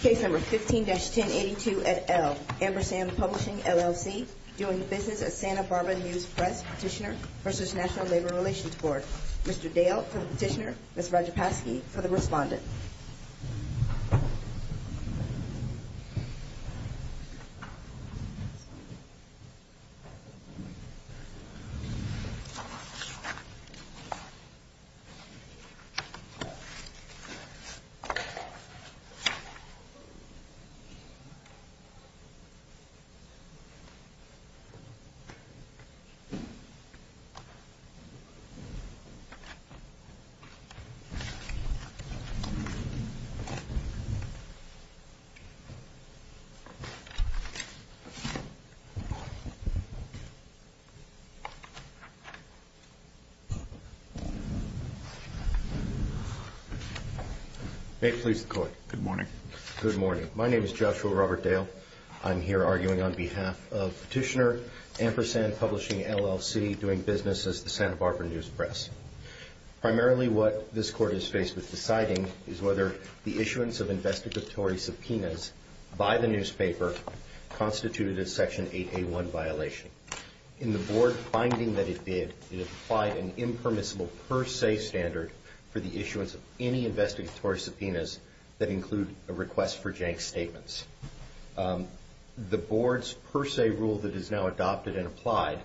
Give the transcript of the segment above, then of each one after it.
Case number 15-1082 at L. Ampersand Publishing, LLC Doing business at Santa Barbara News Press Petitioner v. National Labor Relations Board Mr. Dale for the petitioner, Ms. Rajapasky for the respondent Mr. Dale for the petitioner, Ms. Rajapasky for the respondent Good morning. My name is Joshua Robert Dale. I'm here arguing on behalf of Petitioner, Ampersand Publishing, LLC Doing business at Santa Barbara News Press Primarily what this court is faced with deciding is whether the issuance of investigatory subpoenas by the newspaper Constituted a Section 8A1 violation In the Board finding that it did, it applied an impermissible per se standard For the issuance of any investigatory subpoenas that include a request for jank statements The Board's per se rule that is now adopted and applied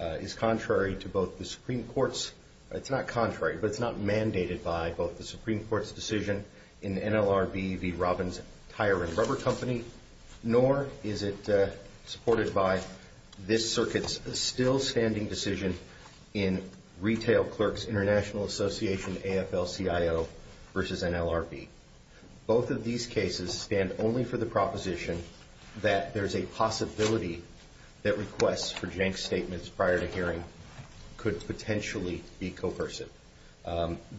Is contrary to both the Supreme Court's It's not contrary, but it's not mandated by both the Supreme Court's decision In NLRB v. Robbins Tire and Rubber Company Nor is it supported by this circuit's still standing decision In Retail Clerks International Association AFL-CIO v. NLRB Both of these cases stand only for the proposition That there's a possibility that requests for jank statements prior to hearing Could potentially be coercive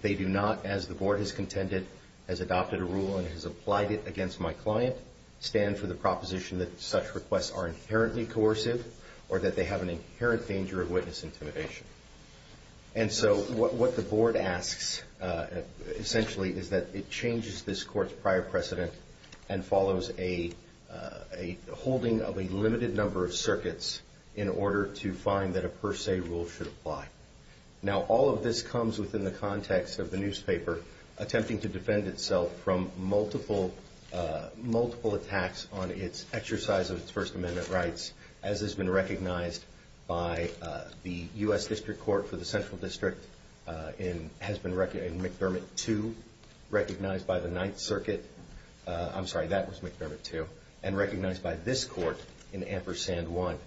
They do not, as the Board has contended, has adopted a rule and has applied it against my client Stand for the proposition that such requests are inherently coercive Or that they have an inherent danger of witness intimidation And so what the Board asks, essentially, is that it changes this court's prior precedent And follows a holding of a limited number of circuits In order to find that a per se rule should apply Now all of this comes within the context of the newspaper Attempting to defend itself from multiple attacks On its exercise of its First Amendment rights As has been recognized by the U.S. District Court for the Central District In McDermott 2, recognized by the Ninth Circuit I'm sorry, that was McDermott 2 And recognized by this court in Ampersand 1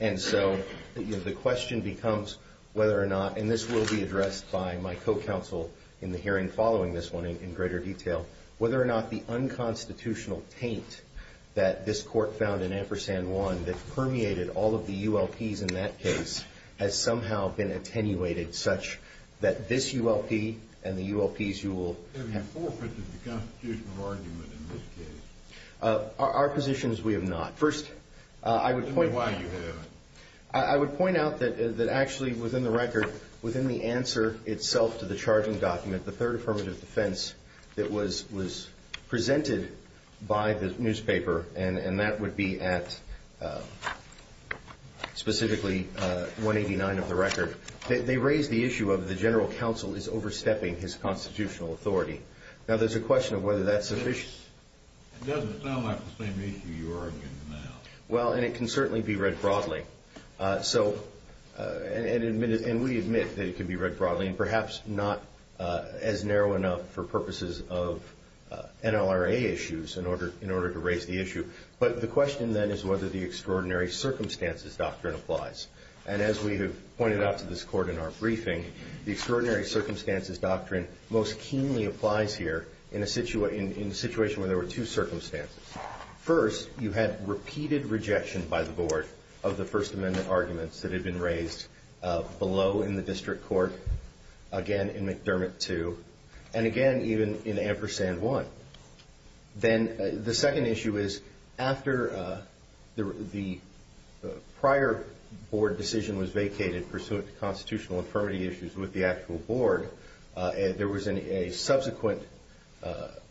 And so the question becomes whether or not And this will be addressed by my co-counsel in the hearing following this one in greater detail Whether or not the unconstitutional taint that this court found in Ampersand 1 That permeated all of the U.L.P.s in that case Has somehow been attenuated such that this U.L.P. And the U.L.P.s you will have Our position is we have not First, I would point out I would point out that actually within the record Within the answer itself to the charging document The Third Affirmative Defense that was presented by the newspaper And that would be at specifically 189 of the record They raised the issue of the general counsel is overstepping his constitutional authority Now there's a question of whether that's sufficient It doesn't sound like the same issue you're arguing now Well and it can certainly be read broadly So and we admit that it can be read broadly And perhaps not as narrow enough for purposes of NLRA issues In order to raise the issue But the question then is whether the extraordinary circumstances doctrine applies And as we have pointed out to this court in our briefing The extraordinary circumstances doctrine most keenly applies here In a situation where there were two circumstances First, you had repeated rejection by the board Of the First Amendment arguments that had been raised Below in the district court Again in McDermott 2 And again even in Ampersand 1 Then the second issue is After the prior board decision was vacated Pursuant to constitutional infirmity issues with the actual board There was a subsequent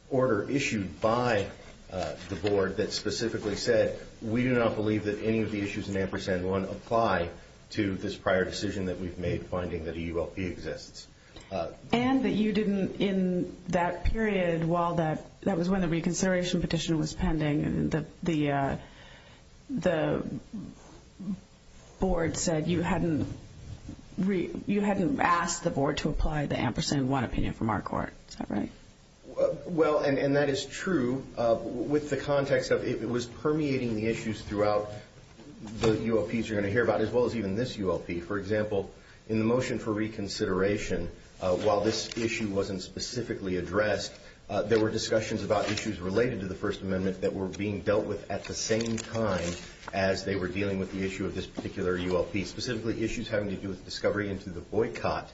order issued by the board That specifically said We do not believe that any of the issues in Ampersand 1 Apply to this prior decision that we've made Finding that a ULP exists And that you didn't in that period While that was when the reconsideration petition was pending The board said you hadn't You hadn't asked the board to apply the Ampersand 1 opinion from our court Is that right? Well, and that is true With the context of it was permeating the issues throughout The ULPs you're going to hear about as well as even this ULP For example, in the motion for reconsideration While this issue wasn't specifically addressed There were discussions about issues related to the First Amendment That were being dealt with at the same time As they were dealing with the issue of this particular ULP Specifically issues having to do with discovery into the boycott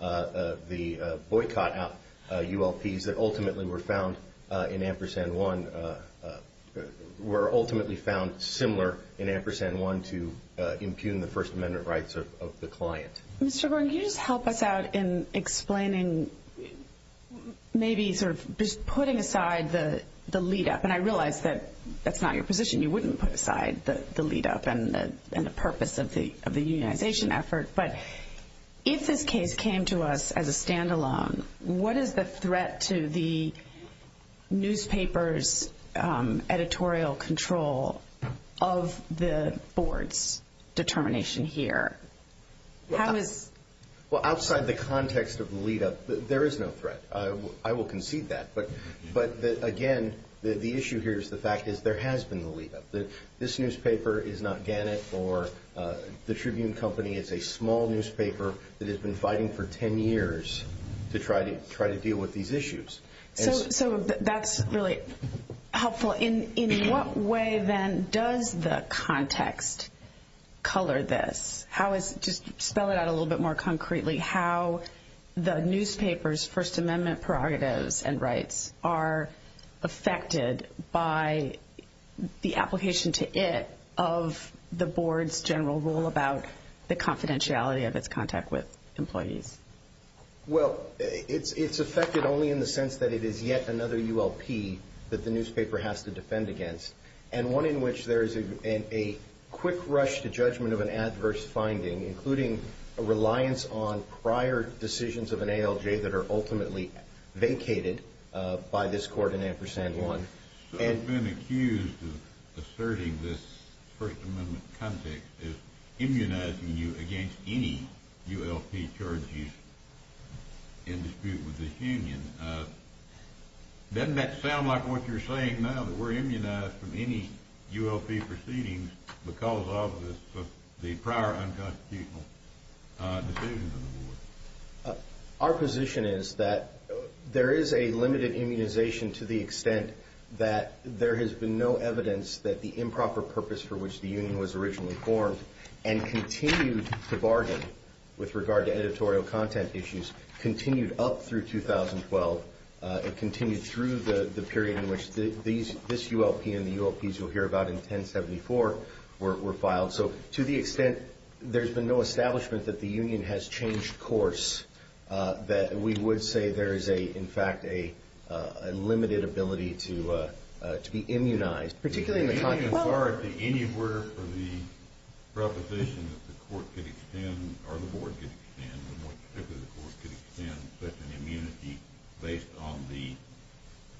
The boycott out ULPs that ultimately were found in Ampersand 1 Were ultimately found similar in Ampersand 1 To impugn the First Amendment rights of the client Mr. Gordon, can you just help us out in explaining Maybe sort of putting aside the lead-up And I realize that that's not your position You wouldn't put aside the lead-up And the purpose of the unionization effort But if this case came to us as a stand-alone What is the threat to the newspaper's editorial control Of the board's determination here? Outside the context of the lead-up, there is no threat I will concede that But again, the issue here is the fact that there has been the lead-up This newspaper is not Gannett or the Tribune Company It's a small newspaper that has been fighting for 10 years To try to deal with these issues So that's really helpful In what way then does the context color this? Just spell it out a little bit more concretely How the newspaper's First Amendment prerogatives and rights Are affected by the application to it Of the board's general rule About the confidentiality of its contact with employees Well, it's affected only in the sense that it is yet another ULP That the newspaper has to defend against And one in which there is a quick rush to judgment Of an adverse finding Including a reliance on prior decisions of an ALJ That are ultimately vacated by this court in Ampersand 1 So you've been accused of asserting this First Amendment context As immunizing you against any ULP charge used in dispute with the union Doesn't that sound like what you're saying now? That we're immunized from any ULP proceedings Because of the prior unconstitutional decisions of the board Our position is that there is a limited immunization To the extent that there has been no evidence That the improper purpose for which the union was originally formed And continued to bargain with regard to editorial content issues Continued up through 2012 It continued through the period in which this ULP And the ULPs you'll hear about in 1074 were filed So to the extent there's been no establishment That the union has changed course That we would say there is in fact a limited ability to be immunized Particularly in the context of Anywhere for the proposition that the court could extend Or the board could extend Or more particularly the court could extend Such an immunity based on the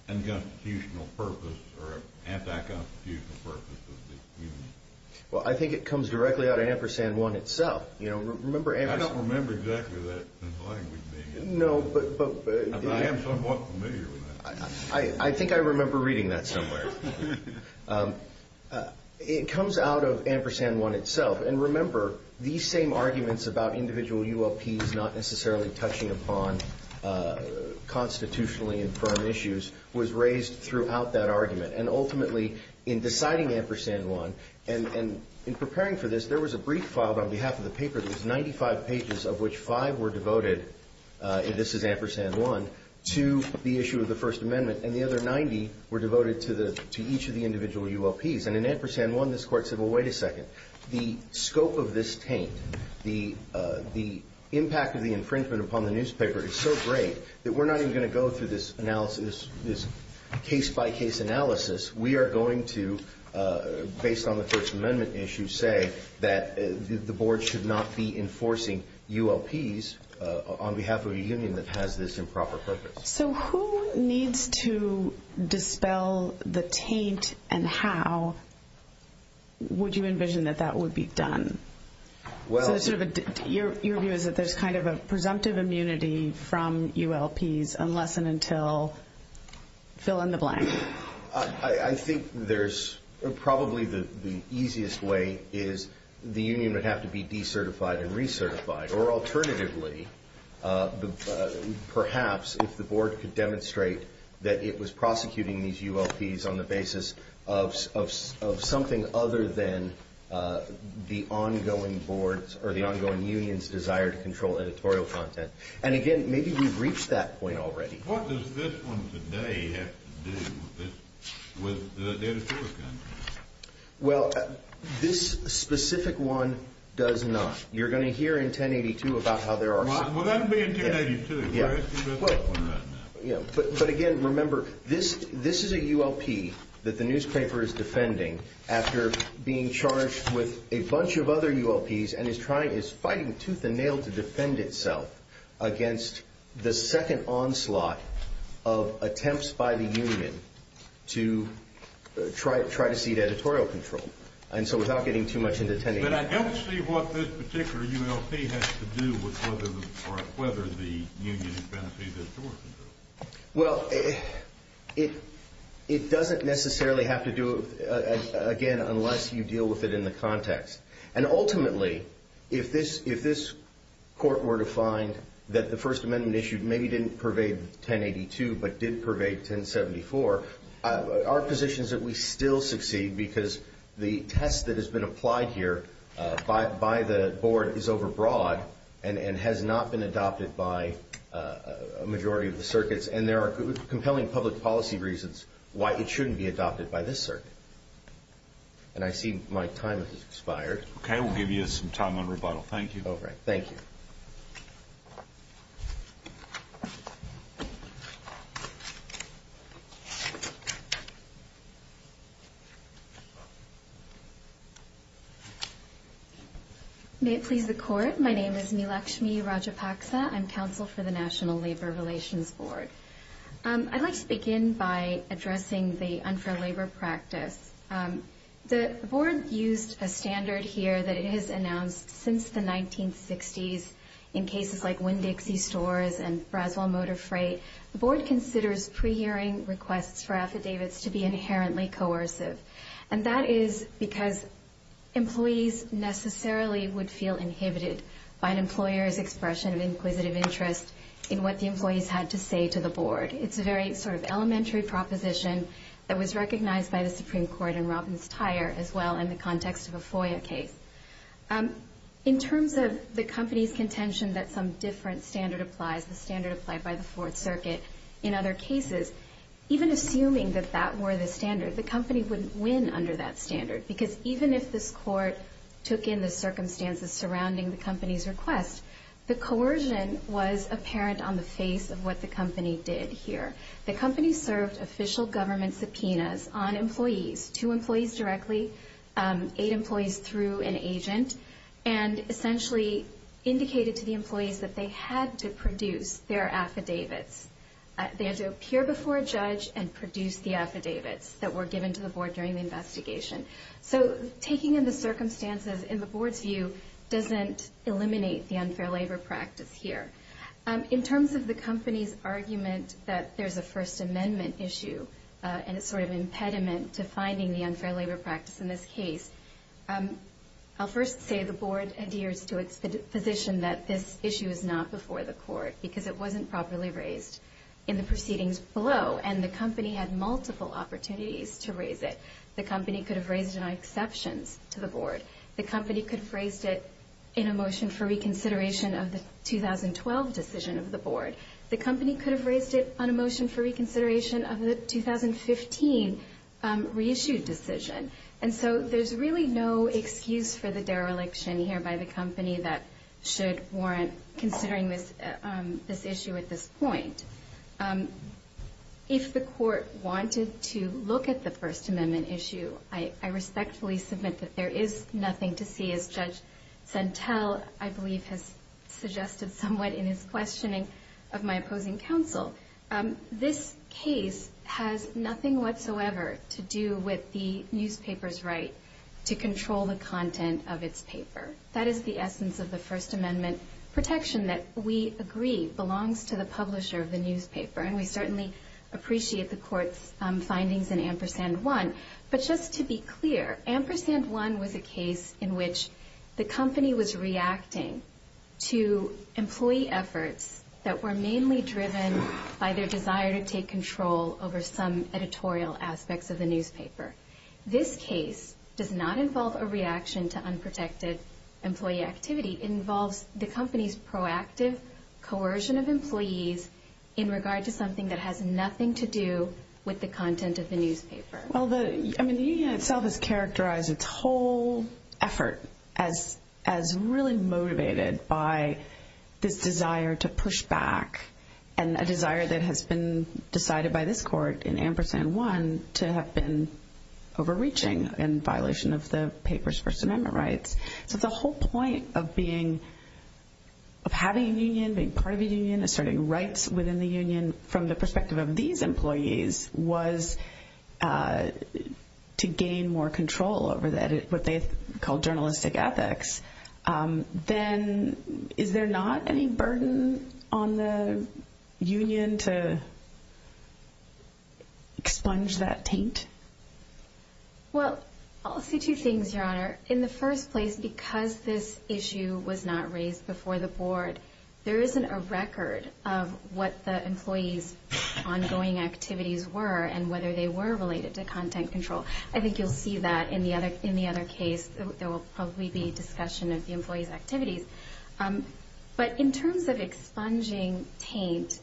unconstitutional purpose Or anti-constitutional purpose of the union Well I think it comes directly out of Ampersand 1 itself I don't remember exactly that in the language being used I am somewhat familiar with that I think I remember reading that somewhere It comes out of Ampersand 1 itself And remember these same arguments about individual ULPs Not necessarily touching upon constitutionally informed issues Was raised throughout that argument And ultimately in deciding Ampersand 1 And in preparing for this There was a brief filed on behalf of the paper There's 95 pages of which 5 were devoted And this is Ampersand 1 To the issue of the First Amendment And the other 90 were devoted to each of the individual ULPs And in Ampersand 1 this court said Well wait a second The scope of this taint The impact of the infringement upon the newspaper is so great That we're not even going to go through this analysis This case by case analysis We are going to Based on the First Amendment issue Say that the board should not be enforcing ULPs On behalf of a union that has this improper purpose So who needs to dispel the taint and how Would you envision that that would be done? Your view is that there's kind of a presumptive immunity From ULPs unless and until Fill in the blank I think there's Probably the easiest way is The union would have to be decertified and recertified Or alternatively Perhaps if the board could demonstrate That it was prosecuting these ULPs On the basis of something other than The ongoing board's Or the ongoing union's desire to control editorial content And again maybe we've reached that point already What does this one today have to do With the editorial content? Well this specific one does not You're going to hear in 1082 about how there are Well that'll be in 1082 But again remember This is a ULP That the newspaper is defending After being charged with a bunch of other ULPs And is fighting tooth and nail to defend itself Against the second onslaught Of attempts by the union To try to cede editorial control And so without getting too much into 1082 But I don't see what this particular ULP has to do With whether the union has benefited from editorial control Well It doesn't necessarily have to do Again unless you deal with it in the context And ultimately If this court were to find That the first amendment issued Maybe didn't pervade 1082 But did pervade 1074 Our position is that we still succeed Because the test that has been applied here By the board is over broad And has not been adopted by A majority of the circuits And there are compelling public policy reasons Why it shouldn't be adopted by this circuit And I see my time has expired Okay we'll give you some time on rebuttal Thank you May it please the court My name is Neelakshmi Rajapaksa I'm counsel for the National Labor Relations Board I'd like to begin by addressing The unfair labor practice The board used a standard here That it has announced since the 1960s In cases like Winn-Dixie stores And Braswell Motor Freight The board considers pre-hearing requests For affidavits to be inherently coercive And that is because Employees necessarily would feel inhibited By an employer's expression of inquisitive interest In what the employees had to say to the board It's a very sort of elementary proposition That was recognized by the Supreme Court And Robbins-Tyer as well In the context of a FOIA case In terms of the company's contention That some different standard applies The standard applied by the Fourth Circuit In other cases Even assuming that that were the standard The company wouldn't win under that standard Because even if this court Took in the circumstances Surrounding the company's request The coercion was apparent On the face of what the company did here The company served official government subpoenas On employees Two employees directly Eight employees through an agent And essentially Indicated to the employees That they had to produce their affidavits They had to appear before a judge And produce the affidavits That were given to the board During the investigation So taking in the circumstances In the board's view Doesn't eliminate The unfair labor practice here In terms of the company's argument That there's a First Amendment issue And a sort of impediment To finding the unfair labor practice In this case I'll first say The board adheres to its position That this issue is not before the court Because it wasn't properly raised In the proceedings below And the company had multiple opportunities To raise it The company could have raised it On exceptions to the board The company could have raised it In a motion for reconsideration Of the 2012 decision of the board The company could have raised it On a motion for reconsideration Of the 2015 reissued decision And so there's really no excuse For the dereliction here By the company That should warrant Considering this issue at this point If the court wanted to Look at the First Amendment issue I respectfully submit That there is nothing to see As Judge Sentell I believe has suggested somewhat In his questioning Of my opposing counsel This case Has nothing whatsoever To do with the newspaper's right To control the content of its paper That is the essence Of the First Amendment protection That we agree Belongs to the publisher of the newspaper And we certainly Appreciate the court's findings In Ampersand 1 But just to be clear Ampersand 1 was a case In which the company was reacting To employee efforts That were mainly driven By their desire to take control Over some editorial aspects Of the newspaper This case does not involve A reaction to unprotected Employee activity It involves the company's proactive Coercion of employees In regard to something That has nothing to do With the content of the newspaper The union itself Has characterized its whole effort As really motivated By this desire to push back And a desire that has been Decided by this court In Ampersand 1 To have been overreaching In violation of the paper's First Amendment rights So the whole point of being Of having a union Being part of a union Asserting rights within the union From the perspective Of these employees Was to gain more control Over what they call Journalistic ethics Then is there not any burden On the union To expunge that taint? Well I'll say two things Your honor In the first place Because this issue Was not raised before the board There isn't a record Of what the employees Ongoing activities were And whether they were Related to content control I think you'll see that In the other case There will probably be discussion Of the employees' activities But in terms of expunging taint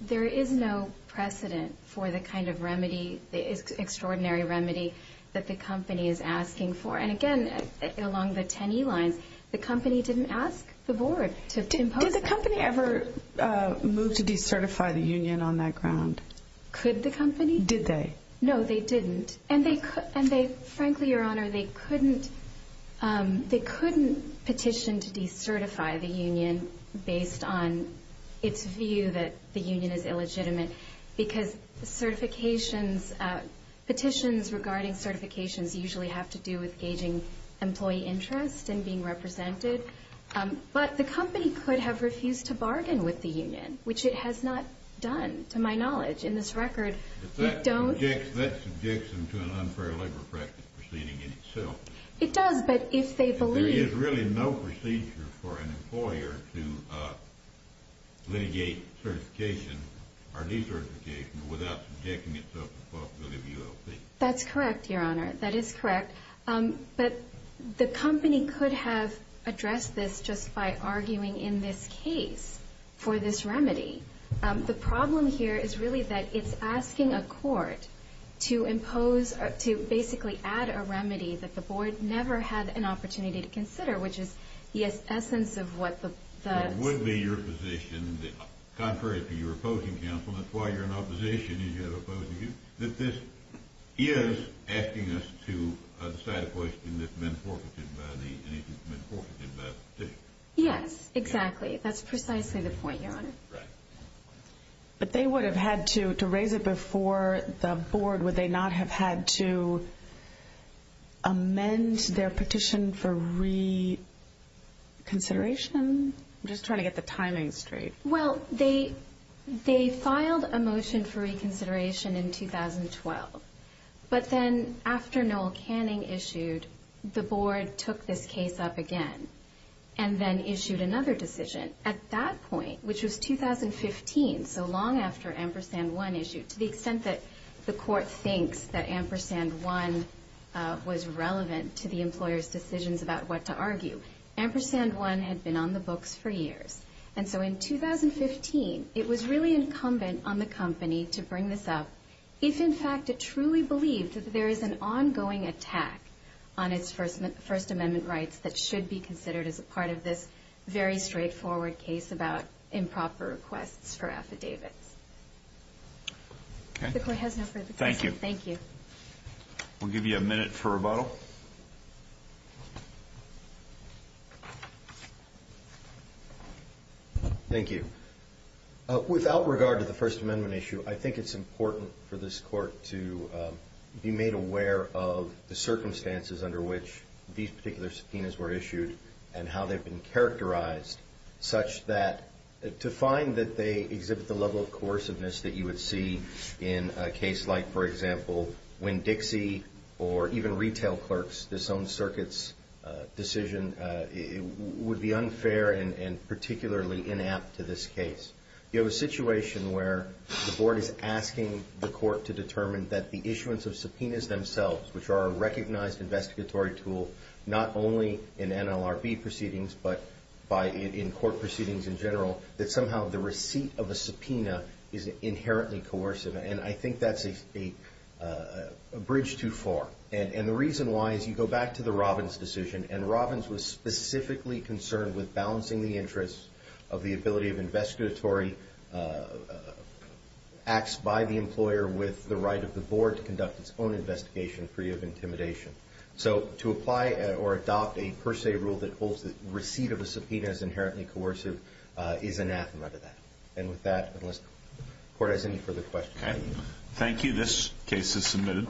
There is no precedent For the kind of remedy The extraordinary remedy That the company is asking for And again Along the 10 E lines The company didn't ask the board To impose that Did the company ever Move to decertify the union On that ground? Could the company? Did they? No they didn't And they frankly your honor They couldn't They couldn't petition To decertify the union Based on its view That the union is illegitimate Because certifications Petitions regarding certifications Usually have to do with Gauging employee interest And being represented But the company could have Refused to bargain with the union Which it has not done To my knowledge In this record That subjects them To an unfair labor practice Proceeding in itself It does but if they believe There is really no procedure For an employer To litigate certification Or decertification Without subjecting itself To the possibility of ULP That's correct your honor That is correct But the company could have Addressed this just by Arguing in this case For this remedy The problem here Is really that It's asking a court To impose To basically add a remedy That the board Never had an opportunity To consider Which is the essence Of what the Would be your position That contrary to your Opposing counsel That's why you're in opposition And you have opposing That this is Asking us to decide A question that's been Forfeited by the Yes exactly That's precisely the point Your honor Right But they would have had to Raise it before the board Would they not have had to Amend their petition For reconsideration I'm just trying to get The timing straight Well they They filed a motion For reconsideration in 2012 But then after Noel Canning issued The board took this case Up again And then issued Another decision At that point Which was 2015 So long after Ampersand 1 issued To the extent that The court thinks That Ampersand 1 Was relevant To the employer's decisions About what to argue Ampersand 1 Had been on the books For years And so in 2015 It was really incumbent On the company To bring this up If in fact It truly believed That there is an Ongoing attack On its first amendment rights That should be considered As a part of this Very straightforward case About improper requests For affidavits Okay The court has no further questions Thank you Thank you We'll give you a minute For rebuttal Thank you Without regard To the first amendment issue I think it's important For this court To be made aware Of the circumstances Under which These particular subpoenas Were issued And how they've been characterized Such that To find that they Exhibit the level Of coerciveness That you would see In a case like For example When Dixie Or even retail clerks Disowned circuits Decision Would be unfair And particularly Inapt to this case You have a situation Where the board Is asking the court To determine That the issuance Of subpoenas themselves Which are a recognized Investigatory tool Not only in NLRB proceedings But in court proceedings In general That somehow The receipt of a subpoena Is inherently coercive And I think that's A bridge too far And the reason why Is you go back To the Robbins decision And Robbins was specifically Concerned with balancing The interests Of the ability Of investigatory Acts by the employer With the right of the board To conduct its own investigation Free of intimidation So to apply Or adopt A per se rule That holds the receipt Of a subpoena As inherently coercive Is anathema to that And with that Unless the court Has any further questions Thank you This case is submitted